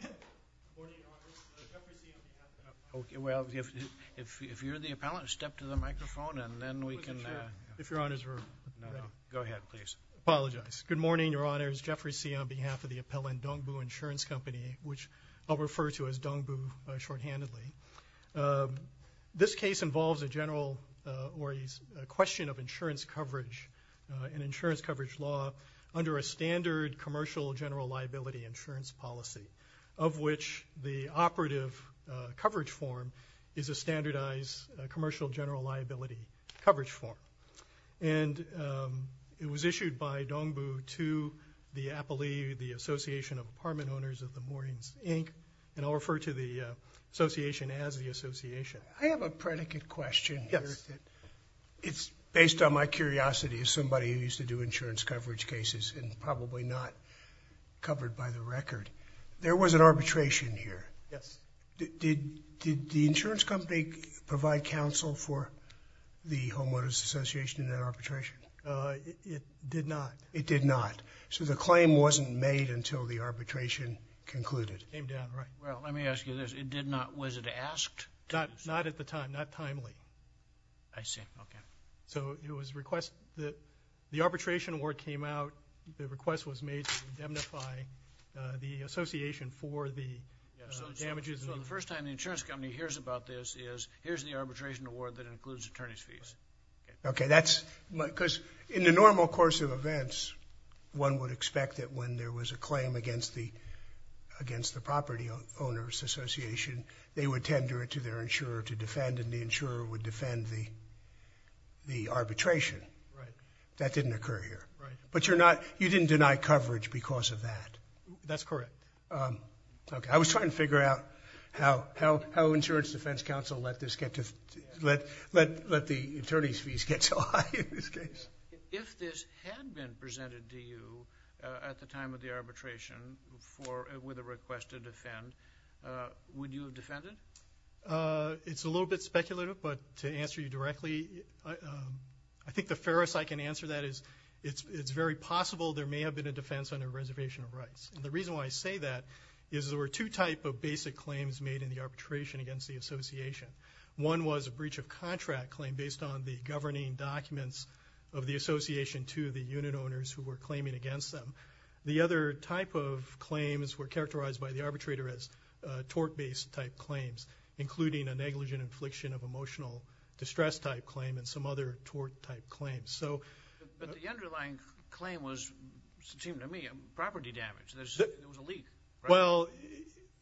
Good morning, Your Honors. Jeffrey Tse on behalf of the appellant Dongbu Insurance Company, which I'll refer to as Dongbu shorthandedly. This case involves a general, or a question of insurance coverage, an insurance coverage law under a standard commercial general liability insurance policy, of which the operative coverage form is a standardized commercial general liability coverage form. And it was issued by Dongbu to the appellee, the Association of Apartment Owners of the Moorings, Inc., and I'll refer to the association as the association. I have a predicate question. It's based on my curiosity as somebody who used to do insurance coverage cases, and probably not covered by the record. There was an arbitration here. Yes. Did the insurance company provide counsel for the homeowners association in that arbitration? It did not. It did not. So the claim wasn't made until the arbitration concluded. Came down, right. Well, let me ask you this. It did not, was it asked? Not at the time, not timely. I see, okay. So it was a request that the arbitration award came out, the request was made to indemnify the association for the damages. So the first time the insurance company hears about this is, here's the arbitration award that includes attorney's fees. Okay, that's because in the normal course of events, one would expect that when there was a claim against the property owners association, they would tender it to their insurer to defend, and the insurer would defend the arbitration. Right. That didn't occur here. Right. But you're not, you didn't deny coverage because of that. That's correct. Okay, I was trying to figure out how insurance defense counsel let this get to, let the attorney's fees get so high in this case. If this had been presented to you at the time of the arbitration for, with a request to defend, would you have defended? It's a little bit speculative, but to answer you directly, I think the fairest I can answer that is, it's very possible there may have been a defense under reservation of rights. And the reason why I say that is there were two type of basic claims made in the arbitration against the association. One was a breach of contract claim based on the association to the unit owners who were claiming against them. The other type of claims were characterized by the arbitrator as tort based type claims, including a negligent infliction of emotional distress type claim and some other tort type claims. But the underlying claim was, seemed to me, property damage. There was a leak. Well,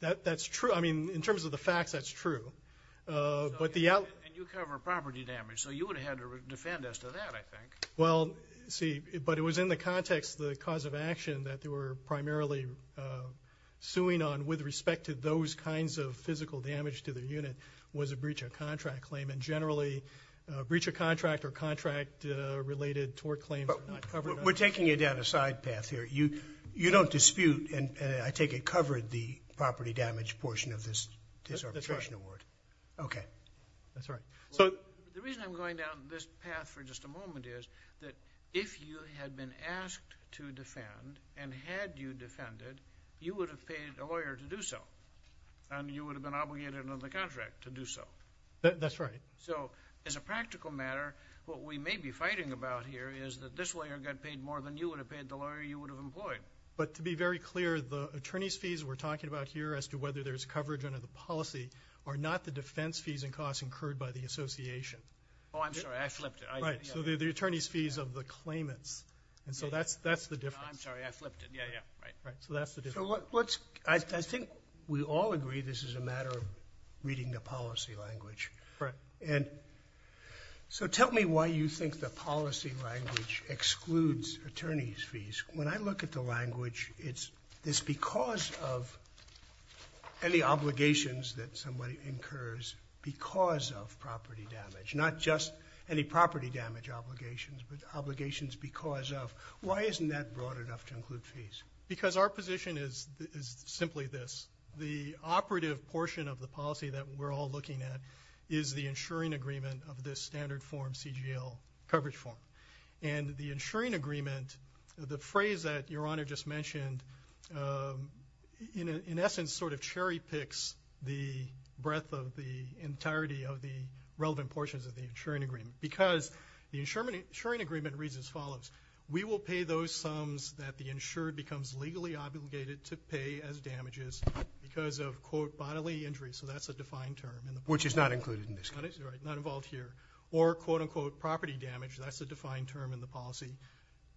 that's true. I mean, in terms of the facts, that's true. And you cover property damage, so you would have had to defend as to that, I think. Well, see, but it was in the context, the cause of action that they were primarily suing on with respect to those kinds of physical damage to the unit was a breach of contract claim. And generally, a breach of contract or contract related tort claims are not covered. We're taking it down a side path here. You don't dispute, and I take it covered, the property damage portion of this arbitration award. Okay. That's right. So the reason I'm going down this path for just a moment is that if you had been asked to defend and had you defended, you would have paid a lawyer to do so. And you would have been obligated under the contract to do so. That's right. So as a practical matter, what we may be fighting about here is that this lawyer got paid more than you would have paid the lawyer you would have employed. But to be very clear, the attorney's fees we're talking about here as to whether there's coverage under the policy are not the defense fees and costs incurred by the association. Oh, I'm sorry. I flipped it. Right. So they're the attorney's fees of the claimants. And so that's the difference. I'm sorry. I flipped it. Yeah. Yeah. Right. So that's the difference. I think we all agree this is a matter of reading the policy language. Right. And so tell me why you think the policy language excludes attorney's fees. When I look at the damage, not just any property damage obligations, but obligations because of why isn't that broad enough to include fees? Because our position is simply this. The operative portion of the policy that we're all looking at is the insuring agreement of this standard form, CGL coverage form. And the insuring agreement, the phrase that your honor just mentioned, in essence, sort of cherry picks the breadth of the entirety of the relevant portions of the insuring agreement. Because the insuring agreement reads as follows. We will pay those sums that the insured becomes legally obligated to pay as damages because of quote bodily injuries. So that's a defined term. Which is not included in this case. Right. Not involved here. Or quote unquote property damage. That's a defined term in the policy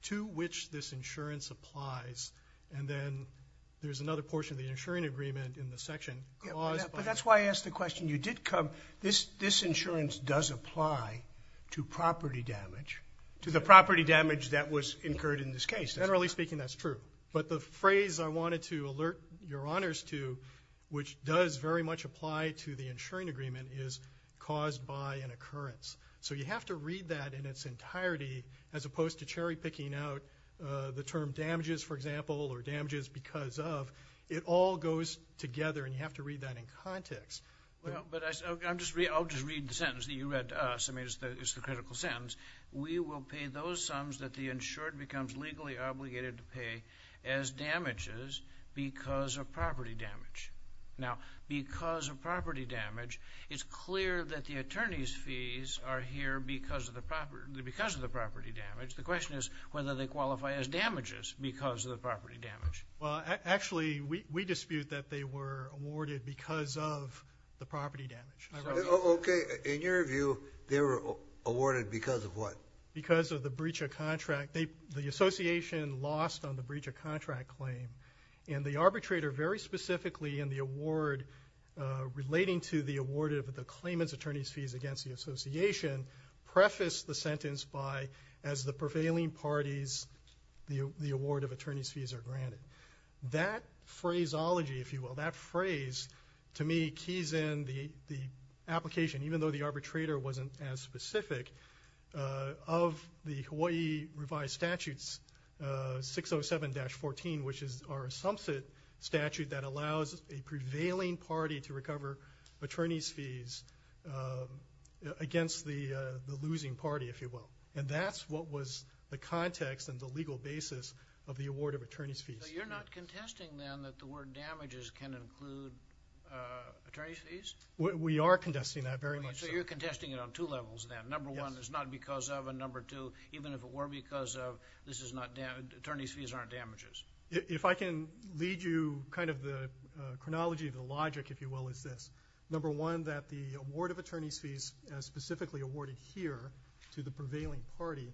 to which this insurance applies. And then there's another portion of the section. But that's why I asked the question. You did come. This insurance does apply to property damage. To the property damage that was incurred in this case. Generally speaking, that's true. But the phrase I wanted to alert your honors to, which does very much apply to the insuring agreement, is caused by an occurrence. So you have to read that in its entirety as opposed to cherry picking out the term damages, for example, or damages because of. It all goes together and you have to read that in context. But I'm just, I'll just read the sentence that you read to us. I mean it's the critical sentence. We will pay those sums that the insured becomes legally obligated to pay as damages because of property damage. Now because of property damage, it's clear that the attorney's fees are here because of the property, because of the property damage. The question is whether they qualify as damages because of the property damage. Well actually we dispute that they were awarded because of the property damage. Okay, in your view they were awarded because of what? Because of the breach of contract. They, the association lost on the breach of contract claim. And the arbitrator very specifically in the award relating to the award of the claimant's attorney's fees against the association prefaced the sentence by as the prevailing parties the award of attorney's fees are granted. That phraseology, if you will, that phrase to me keys in the application even though the arbitrator wasn't as specific of the Hawaii revised statutes 607-14 which is our statute that allows a prevailing party to recover attorney's fees against the losing party if you will. And that's what was the context and the legal basis of the award of attorney's fees. You're not contesting then that the word damages can include attorney's fees? We are contesting that very much. So you're contesting it on two levels then. Number one is not because of a number two even if it were because of this is not damaged attorney's fees aren't damages. If I can lead you kind of the chronology of the logic if you will is this. Number one that the award of attorney's fees as specifically awarded here to the prevailing party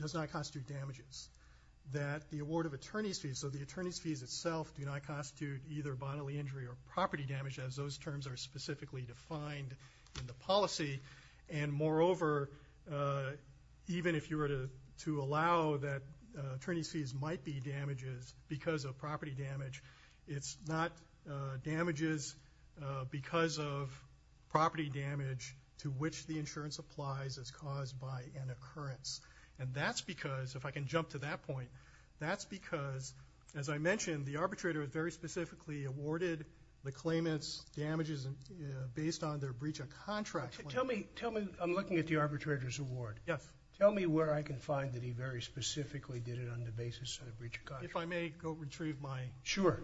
does not constitute damages. That the award of attorney's fees so the attorney's fees itself do not constitute either bodily injury or property damage as those terms are specifically defined in the policy. And moreover even if you were to to allow that attorney's fees might be damages because of property damage it's not damages because of property damage to which the insurance applies as caused by an occurrence. And that's because if I can jump to that point that's because as I mentioned the arbitrator is very specifically awarded the claimants damages based on their breach of contract. Tell me tell me I'm looking at the arbitrator's award. Yes. Tell me where I can find that he very specifically did it on the basis of a breach of contract. If I may go retrieve my. Sure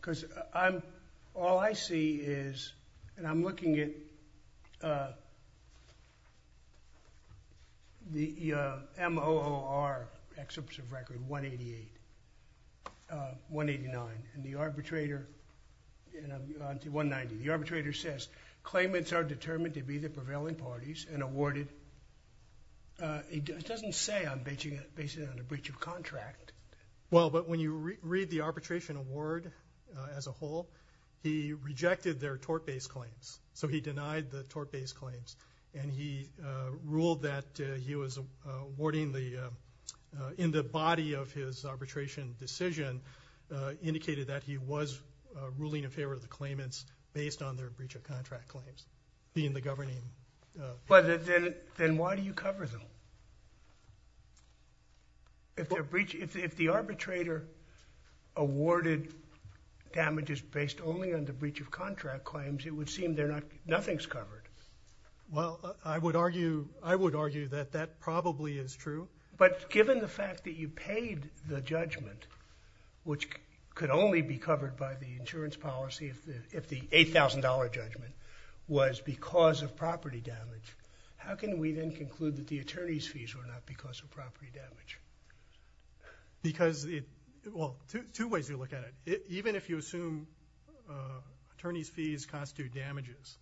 because I'm all I see is and I'm arbitrator says claimants are determined to be the prevailing parties and awarded it doesn't say I'm basing it on a breach of contract. Well but when you read the arbitration award as a whole he rejected their tort based claims so he denied the tort based claims and he ruled that he was awarding the in the body of his arbitration decision indicated that he was ruling in favor of the claimants based on their breach of contract claims being the governing. But then then why do you cover them? If their breach if the arbitrator awarded damages based only on the breach of contract claims it would seem they're not nothing's covered. Well I would argue I would argue that that probably is true. But given the fact that you paid the judgment which could only be covered by the insurance policy if the if the $8,000 judgment was because of property damage how can we then conclude that the attorney's fees were not because of property damage? Because it well two ways you look at it even if you assume attorney's fees constitute damages.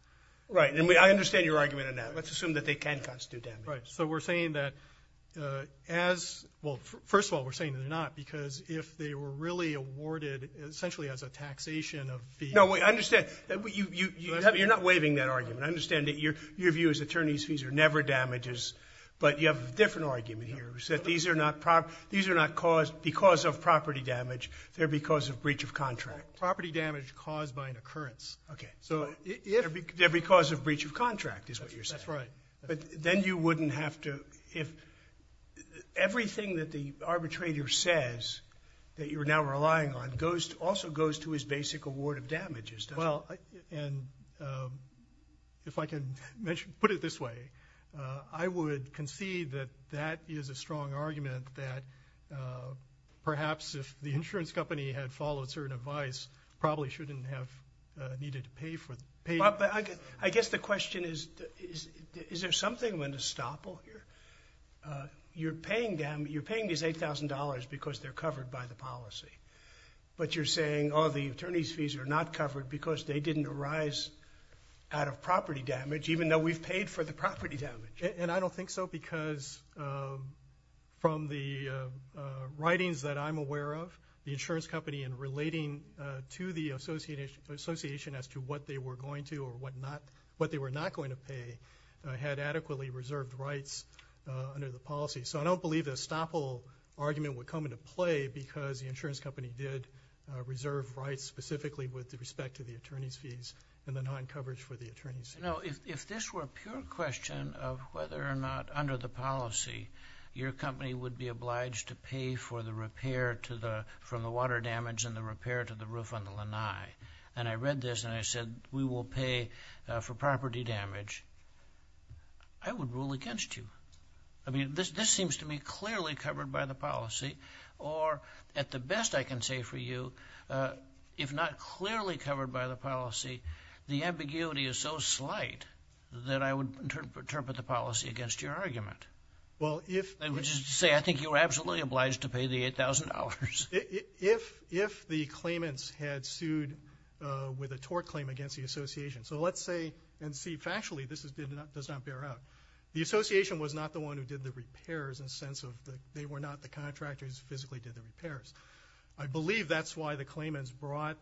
Right and we I understand your argument on that let's assume that they can constitute damage. Right so we're saying that as well first of all we're saying they're not because if they were really awarded essentially as a taxation of the. No we understand that what you have you're not waiving that argument I understand that your your view is attorney's fees are never damages but you have a different argument here who said these are not proper these are not caused because of property damage they're because of breach of contract. Property damage caused by an occurrence. Okay so if they're because of breach of contract is what you're saying. That's right. But then you wouldn't have to if everything that the arbitrator says that you're now relying on goes to also goes to his basic award of damages. Well and if I can mention put it this way I would concede that that is a strong argument that perhaps if the insurance company had followed certain advice probably shouldn't have needed to pay for. I guess the question is is there something when to stop over here you're paying them you're paying these $8,000 because they're covered by the policy but you're saying all the attorney's fees are not covered because they didn't arise out of property damage even though we've paid for the property damage. And I don't think so because from the writings that I'm aware of the insurance company in relating to the association as to what they were going to or what not what they were not going to pay had adequately reserved rights under the policy. So I don't believe this stopple argument would come into play because the insurance company did reserve rights specifically with the respect to the attorney's fees and the non coverage for the attorneys. You know if this were a pure question of whether or not under the policy your company would be obliged to pay for the repair to the from the water damage and the repair to the roof on the lanai and I read this and I said we will pay for property damage I would rule against you. I mean this this seems to me clearly covered by the policy or at the best I can say for you if not clearly covered by the policy the ambiguity is so slight that I would interpret the policy against your argument. Well if I would just say I think you were absolutely obliged to pay the $8,000. If if the claimants had sued with a tort claim against the association so let's say and see factually this is did not does not bear out the association was not the one who did the repairs in a sense of that they were not the contractors physically did the repairs. I believe that's why the claimants brought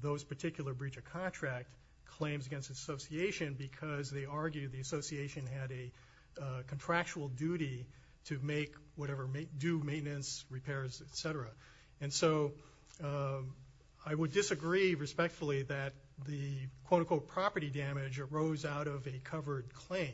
those particular breach of contract claims against association because they argued the association had a contractual duty to make whatever may do maintenance repairs etc. and so I would disagree respectfully that the quote-unquote property damage arose out of a covered claim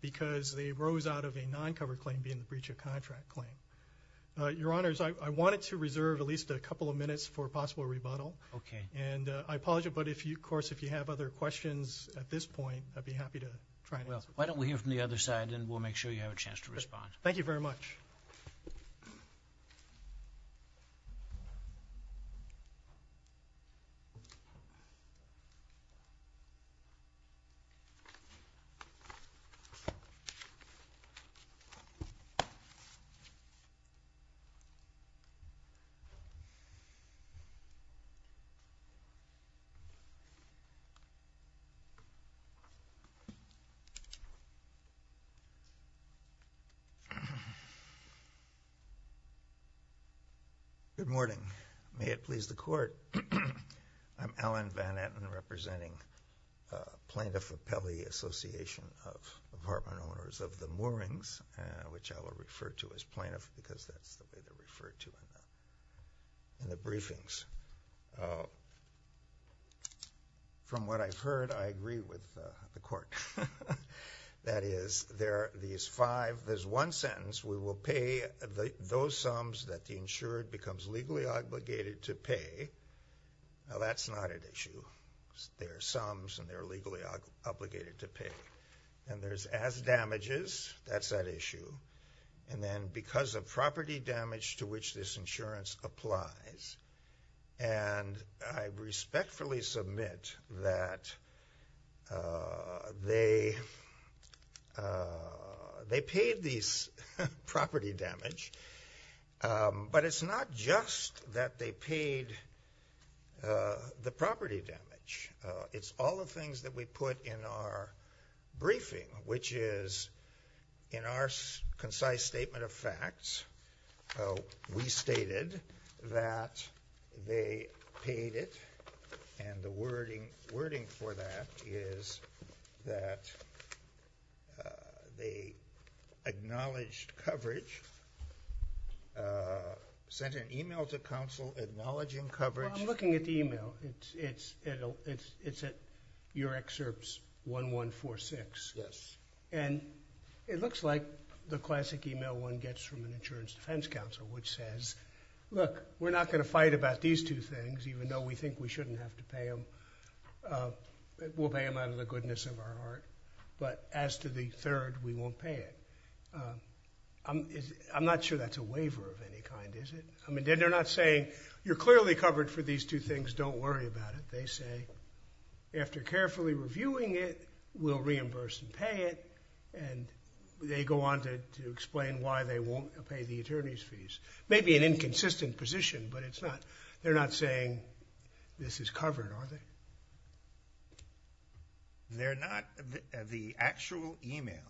because they rose out of a non-covered claim being breach of contract claim. Your honors I wanted to reserve at least a couple of minutes for possible rebuttal. Okay. And I apologize but if you of course if you have other questions at this point I'd be happy to try. Well why don't we hear from the other side and we'll make sure you have a chance to respond. Thank you very much. Good morning. May it please the court. I'm Alan Van Etten representing Plaintiff Appellee Association of apartment owners of the Moorings which I will refer to as plaintiff because that's referred to in the briefings. From what I've heard I agree with the court that is there these five there's one sentence we will pay those sums that the insured becomes legally obligated to pay. Now that's not an issue. There are sums and they're legally obligated to pay and there's as damages that's that issue. And then because of property damage to which this insurance applies and I respectfully submit that they they paid these property damage. But it's not just that they in our concise statement of facts we stated that they paid it and the wording wording for that is that they acknowledged coverage sent an email to counsel acknowledging coverage. I'm looking at the it looks like the classic email one gets from an insurance defense counsel which says look we're not going to fight about these two things even though we think we shouldn't have to pay them. We'll pay them out of the goodness of our heart but as to the third we won't pay it. I'm not sure that's a waiver of any kind is it? I mean they're not saying you're clearly covered for these two things don't worry about it. They say after carefully reviewing it we'll reimburse and pay it and they go on to explain why they won't pay the attorney's fees. Maybe an inconsistent position but it's not they're not saying this is covered are they? They're not the actual email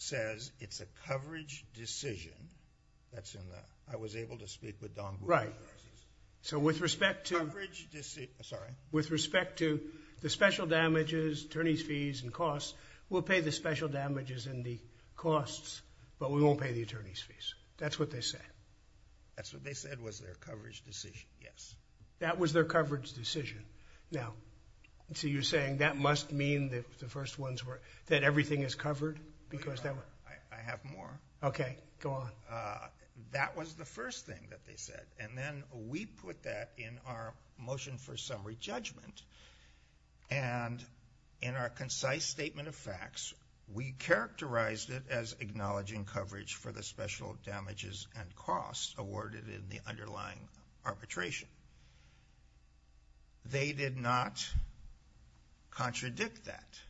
says it's a coverage decision that's in the I was able to speak with Don. Right so with respect to with respect to the special damages attorney's fees and costs we'll pay the special damages and the costs but we won't pay the attorney's fees that's what they said. That's what they said was their coverage decision yes. That was their coverage decision now so you're saying that must mean that the first ones were that everything is covered because that way. I have motion for summary judgment and in our concise statement of facts we characterized it as acknowledging coverage for the special damages and costs awarded in the underlying arbitration. They did not contradict that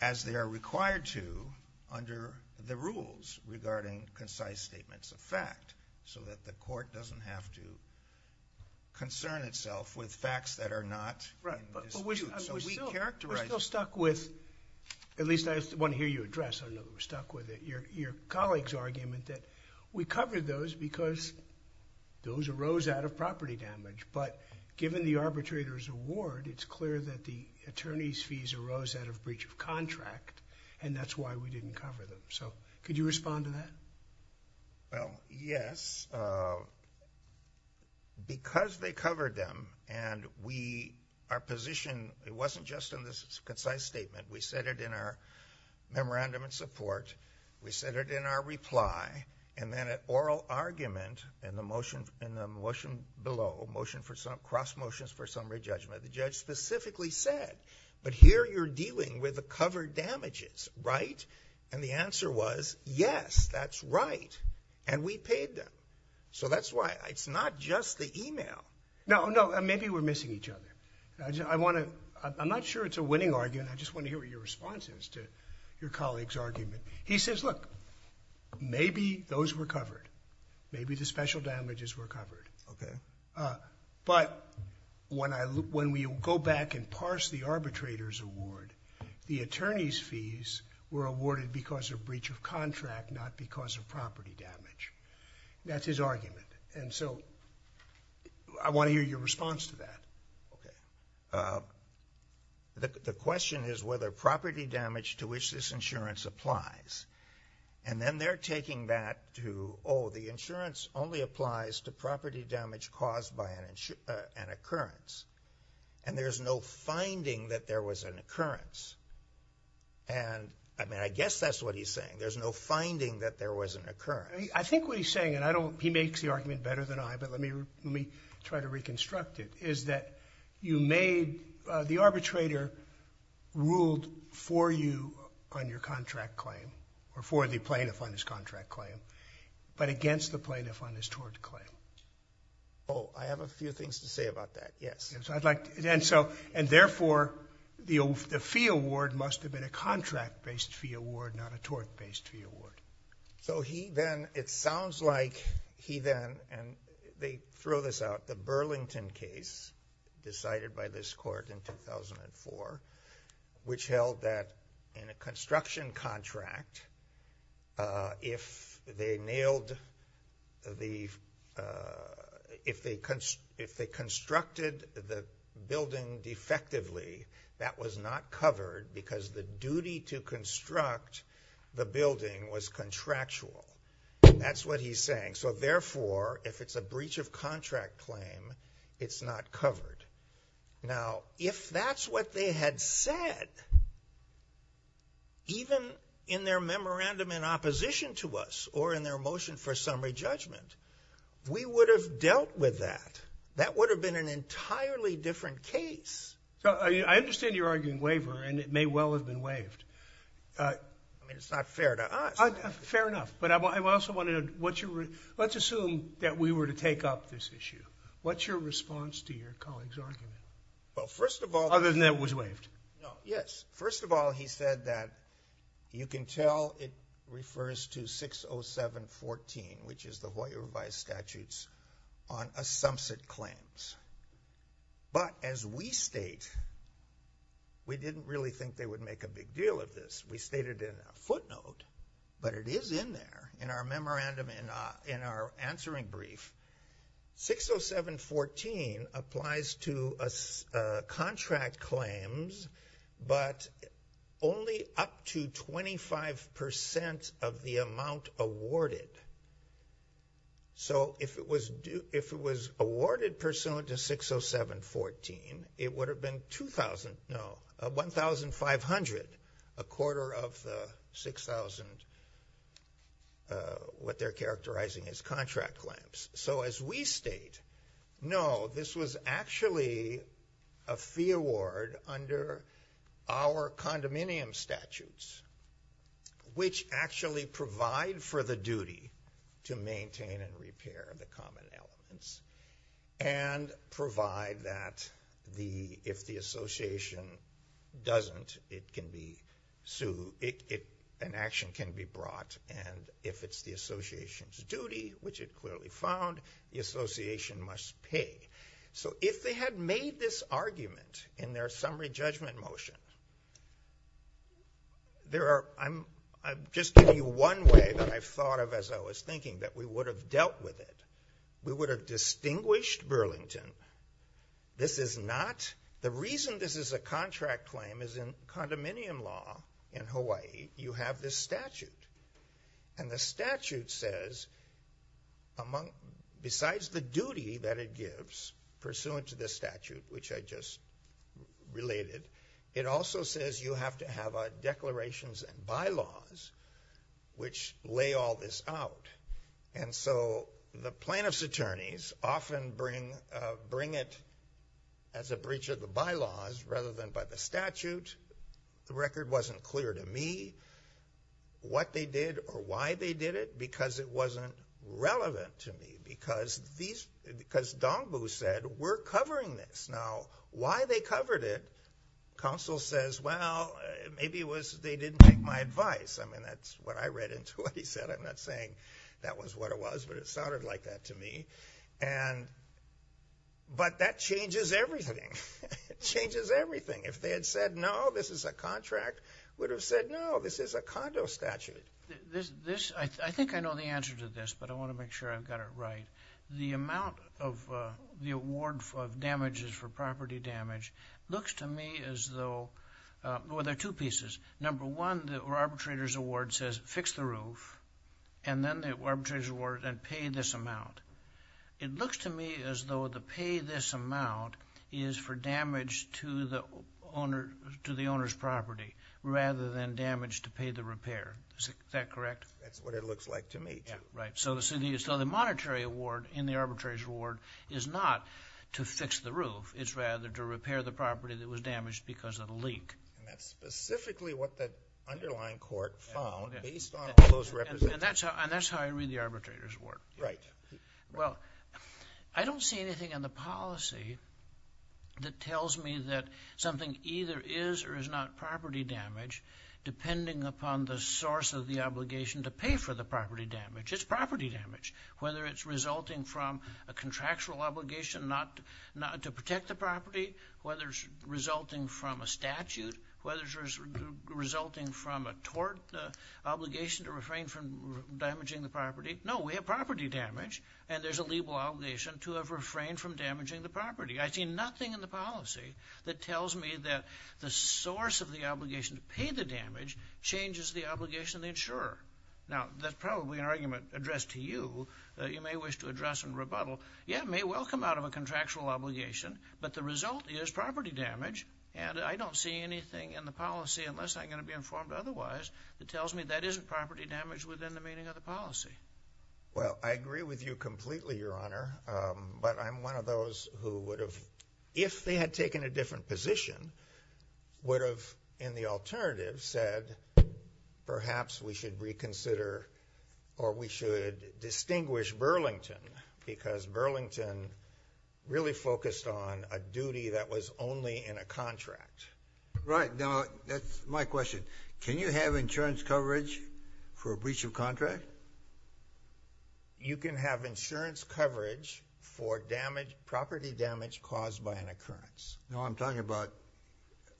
as they are required to under the rules regarding concise statements of fact so that the court doesn't have to concern itself with facts that are not. We're still stuck with at least I want to hear you address I know we're stuck with it your colleagues argument that we covered those because those arose out of property damage but given the arbitrators award it's clear that the attorney's fees arose out of breach of contract and that's why we didn't cover them so could you respond to that well yes because they covered them and we our position it wasn't just in this concise statement we said it in our memorandum and support we said it in our reply and then at oral argument in the motion in the motion below motion for some cross motions for summary judgment the judge specifically said but here you're dealing with the covered damages right and the answer was yes that's right and we paid them so that's why it's not just the email no no maybe we're missing each other I want to I'm not sure it's a winning argument I just want to hear what your response is to your colleagues argument he says look maybe those were covered maybe the special damages were covered okay but when I look when we go back and parse the arbitrators award the attorneys fees were awarded because of breach of contract not because of property damage that's his argument and so I want to hear your response to that okay the question is whether property damage to which this insurance applies and then they're taking that to all the insurance only applies to property damage caused by an insurance and occurrence and there's no finding that there was an occurrence and I mean I guess that's what he's saying there's no finding that there was an occurrence I think what he's saying and I don't he makes the argument better than I but let me let me try to reconstruct it is that you made the arbitrator ruled for you on your contract claim or for the plaintiff on this contract claim but against the plaintiff on this toward the claim oh I have a and therefore the fee award must have been a contract based fee award not a tort based fee award so he then it sounds like he then and they throw this out the Burlington case decided by this court in 2004 which held that in a construction contract if they nailed the if they constructed the building defectively that was not covered because the duty to construct the building was contractual that's what he's saying so therefore if it's a breach of contract claim it's not covered now if that's what they had said even in their memorandum in opposition to us or in their motion for summary judgment we would have dealt with that that would have been an entirely different case I understand you're arguing waiver and it may well have been waived I mean it's not fair to us fair enough but I'm also wanted what you were let's assume that we were to take up this issue what's your response to your colleagues argument well first of all yes first of all he said that you can tell it refers to 607 14 which is the lawyer by statutes on a sum sit claims but as we state we didn't really think they would make a big deal of this we stated in a footnote but it is in there in our memorandum and in our answering brief 607 14 applies to us contract claims but only up to 25% of the amount awarded so if it was due if it was awarded pursuant to 607 14 it would have been 2,000 no 1,500 a quarter of the 6,000 what they're actually a fee award under our condominium statutes which actually provide for the duty to maintain and repair the common elements and provide that the if the Association doesn't it can be so it an action can be brought and if it's the Association's duty which it clearly found the if they had made this argument in their summary judgment motion there are I'm just give you one way that I've thought of as I was thinking that we would have dealt with it we would have distinguished Burlington this is not the reason this is a contract claim is in condominium law in Hawaii you have this statute and the statute says among besides the duty that it gives pursuant to this statute which I just related it also says you have to have a declarations and bylaws which lay all this out and so the plaintiffs attorneys often bring bring it as a breach of the bylaws rather than by the statute the record wasn't clear to me what they did or why they did it because it wasn't relevant to me because these because Dongbu said we're covering this now why they covered it counsel says well maybe it was they didn't take my advice I mean that's what I read into what he said I'm not saying that was what it was but it sounded like that to me and but that changes everything changes everything if they had said no this is a contract would have said no this is a condo statute this I think I know the answer to this but I want to make sure I've got it right the amount of the award for damages for property damage looks to me as though well there are two pieces number one that were arbitrators award says fix the roof and then the arbitrage award and pay this amount it looks to me as though the pay this amount is for damage to the owner to the owner's property rather than damage to pay the repair is that correct that's what it looks like to me right so the city is so the monetary award in the arbitrage award is not to fix the roof it's rather to repair the property that was damaged because of a leak that's that's how I read the arbitrators work right well I don't see anything in the policy that tells me that something either is or is not property damage depending upon the source of the obligation to pay for the property damage it's property damage whether it's resulting from a contractual obligation not not to protect the property whether it's resulting from a statute whether resulting from a tort obligation to refrain from damaging the property no we have property damage and there's a legal obligation to have refrained from damaging the property I see nothing in the policy that tells me that the source of the obligation to pay the damage changes the obligation the insurer now that's probably an argument addressed to you you may wish to address and rebuttal yeah may welcome out of a contractual obligation but the result is property damage and I don't see anything in the policy unless I'm going to be informed otherwise that tells me that isn't property damage within the meaning of the policy well I agree with you completely your honor but I'm one of those who would have if they had taken a different position would have in the alternative said perhaps we should reconsider or we should distinguish Burlington because Burlington really focused on a duty that was only in a contract right now that's my question can you have insurance coverage for a breach of contract you can have insurance coverage for damage property damage caused by an occurrence no I'm talking about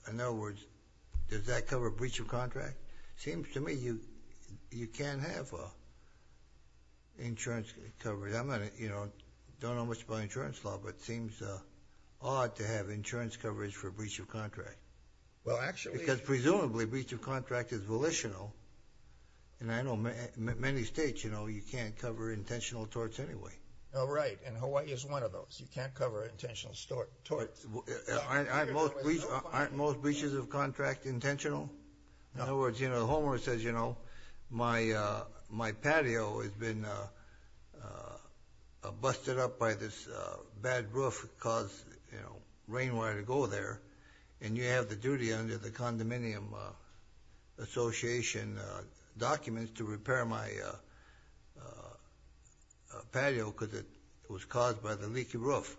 in other words does that you know don't know much about insurance law but seems odd to have insurance coverage for a breach of contract well actually because presumably breach of contract is volitional and I know many states you know you can't cover intentional torts anyway all right and Hawaii is one of those you can't cover an intentional store aren't most breaches of contract intentional in other words you know says you know my my patio has been busted up by this bad roof cause you know rainwater to go there and you have the duty under the condominium Association documents to repair my patio because it was caused by the leaky roof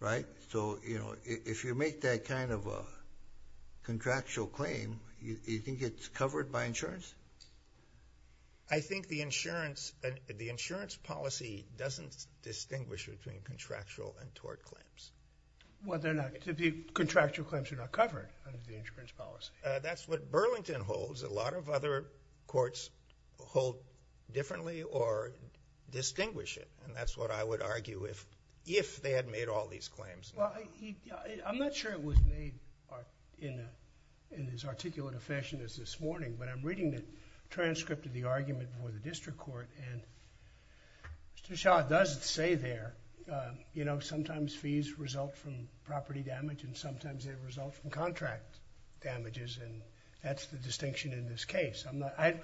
right so you know if you make that kind of a contractual claim you think it's covered by insurance I think the insurance and the insurance policy doesn't distinguish between contractual and tort claims whether or not to be contractual claims are not covered under the insurance policy that's what Burlington holds a lot of other courts hold differently or distinguish it and that's what I would argue if if they had made all these claims I'm not sure it was made in in his articulate a fashion as this morning but I'm reading the transcript of the argument before the district court and to shot doesn't say there you know sometimes fees result from property damage and sometimes they result from contract damages and that's the distinction in this case I'm not I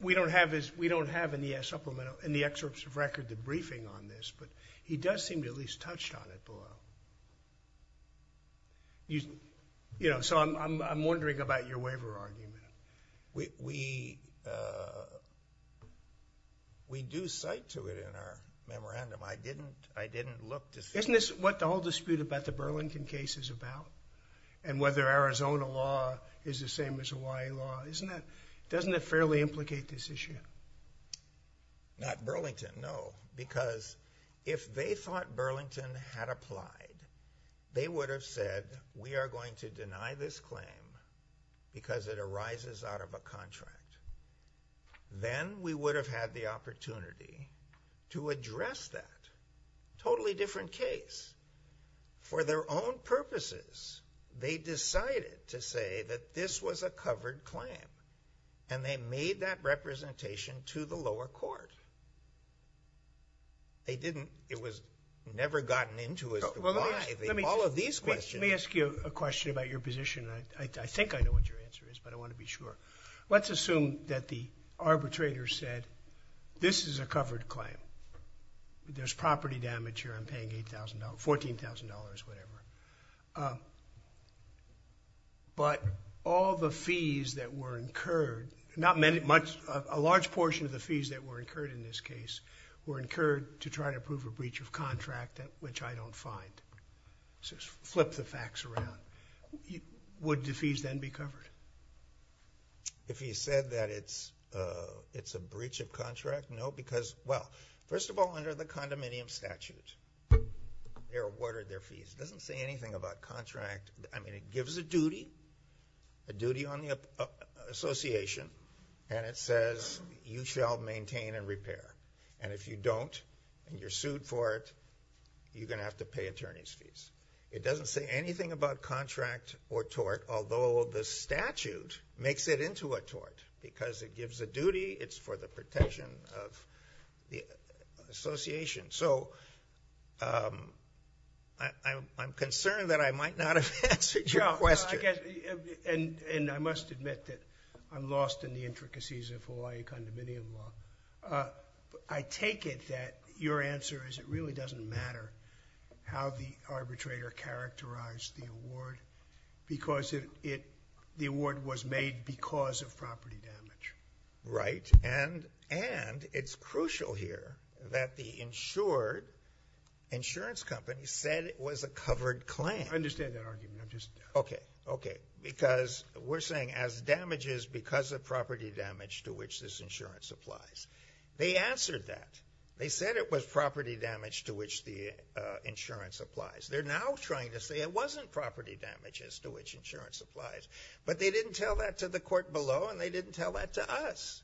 we don't have is we don't have any a supplemental in the excerpts of record the briefing on this but he does seem to at least touched on it below you you know so I'm wondering about your waiver argument we we do cite to it in our memorandum I didn't I didn't look this isn't this what the whole dispute about the Burlington case is about and whether Arizona law is the same as Hawaii law isn't that doesn't it fairly implicate this issue not Burlington no because if they thought Burlington had applied they would have said we are going to deny this claim because it arises out of a contract then we would have had the opportunity to address that totally different case for their own purposes they to the lower court they didn't it was never gotten into all of these questions may ask you a question about your position I think I know what your answer is but I want to be sure let's assume that the arbitrator said this is a covered claim there's property damage here I'm paying $8,000 $14,000 whatever but all the fees that were incurred not many much a large portion of the fees that were incurred in this case were incurred to try to prove a breach of contract that which I don't find so flip the facts around would the fees then be covered if he said that it's it's a breach of contract no because well first of all under the condominium statute they're awarded their fees doesn't say anything about contract I mean it gives a duty a duty on the Association and it says you shall maintain and repair and if you don't and you're sued for it you're gonna have to pay attorneys fees it doesn't say anything about contract or tort although the statute makes it into a tort because it gives a duty it's for the protection of the Association so I'm concerned that I might not have answered your question and and I must admit that I'm lost in the intricacies of Hawaii condominium law I take it that your answer is it really doesn't matter how the arbitrator characterized the award because it the award was made because of property insurance company said it was a covered claim understand that argument just okay okay because we're saying as damages because of property damage to which this insurance applies they answered that they said it was property damage to which the insurance applies they're now trying to say it wasn't property damages to which insurance applies but they didn't tell that to the court below and they didn't tell that to us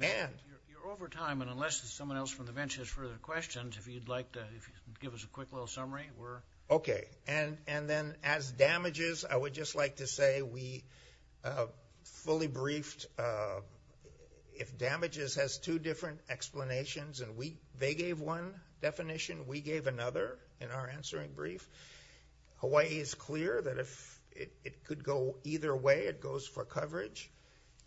and you're over time and unless there's someone else from the bench has further questions if you'd like to give us a quick little summary we're okay and and then as damages I would just like to say we fully briefed if damages has two different explanations and we they gave one definition we gave another in our answering brief Hawaii is clear that if it could go either way it goes for coverage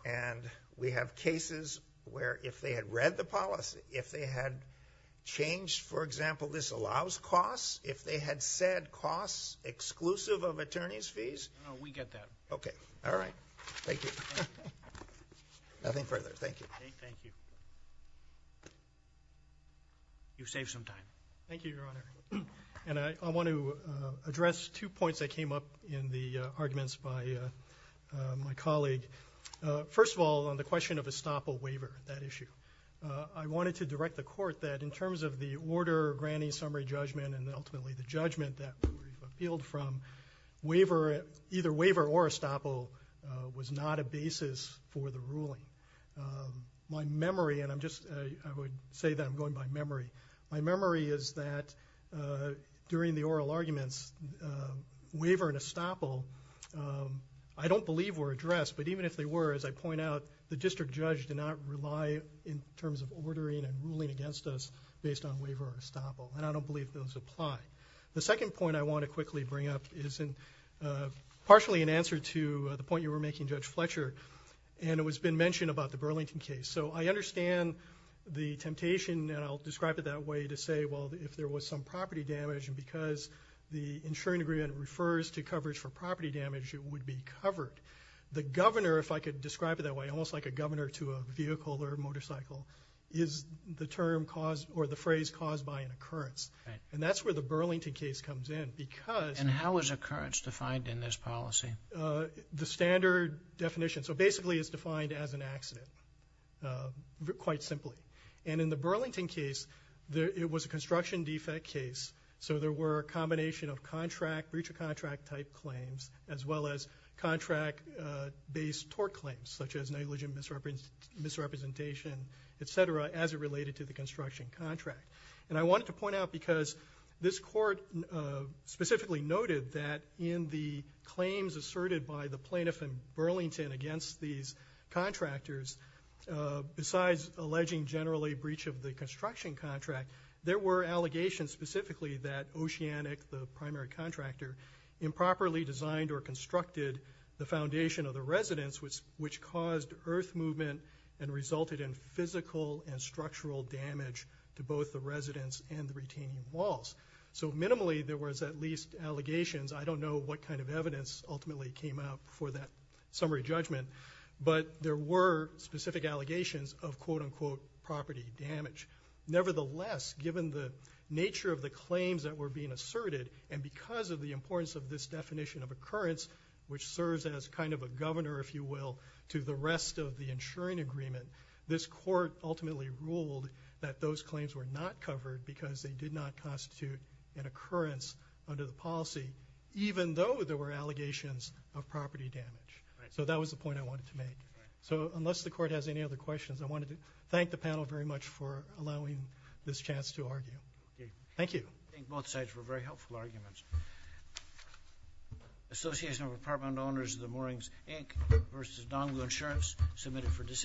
and we have cases where if they had read the policy if they had changed for example this allows costs if they had said costs exclusive of attorneys fees we get that okay all right thank you nothing further thank you you save some time thank you your honor and I want to address two points that came up in the arguments by my colleague first of to direct the court that in terms of the order granting summary judgment and ultimately the judgment that appealed from waiver either waiver or estoppel was not a basis for the ruling my memory and I'm just I would say that I'm going by memory my memory is that during the oral arguments waiver and estoppel I don't believe were addressed but even if they were as I point out the district judge did not rely in terms of ordering and ruling against us based on waiver or estoppel and I don't believe those apply the second point I want to quickly bring up isn't partially in answer to the point you were making judge Fletcher and it was been mentioned about the Burlington case so I understand the temptation and I'll describe it that way to say well if there was some property damage and because the insuring agreement refers to coverage for property damage would be covered the governor if I could describe it that way almost like a governor to a vehicle or motorcycle is the term caused or the phrase caused by an occurrence and that's where the Burlington case comes in because and how is occurrence defined in this policy the standard definition so basically is defined as an accident quite simply and in the Burlington case there it was a construction defect case so there were a combination of contract breach of contract type claims as well as contract based tort claims such as negligent misrepresentation etc as it related to the construction contract and I wanted to point out because this court specifically noted that in the claims asserted by the plaintiff in Burlington against these contractors besides alleging generally breach of the construction contract there were allegations specifically that oceanic the primary designed or constructed the foundation of the residence which which caused earth movement and resulted in physical and structural damage to both the residents and the retaining walls so minimally there was at least allegations I don't know what kind of evidence ultimately came out for that summary judgment but there were specific allegations of quote-unquote property damage nevertheless given the nature of the claims that were being asserted and because of the importance of this definition of occurrence which serves as kind of a governor if you will to the rest of the insuring agreement this court ultimately ruled that those claims were not covered because they did not constitute an occurrence under the policy even though there were allegations of property damage so that was the point I wanted to make so unless the court has any other questions I wanted to thank the panel very much for allowing this chance to argue thank you both sides were very helpful arguments Association of apartment owners the moorings Inc. versus dongle insurance submitted for decision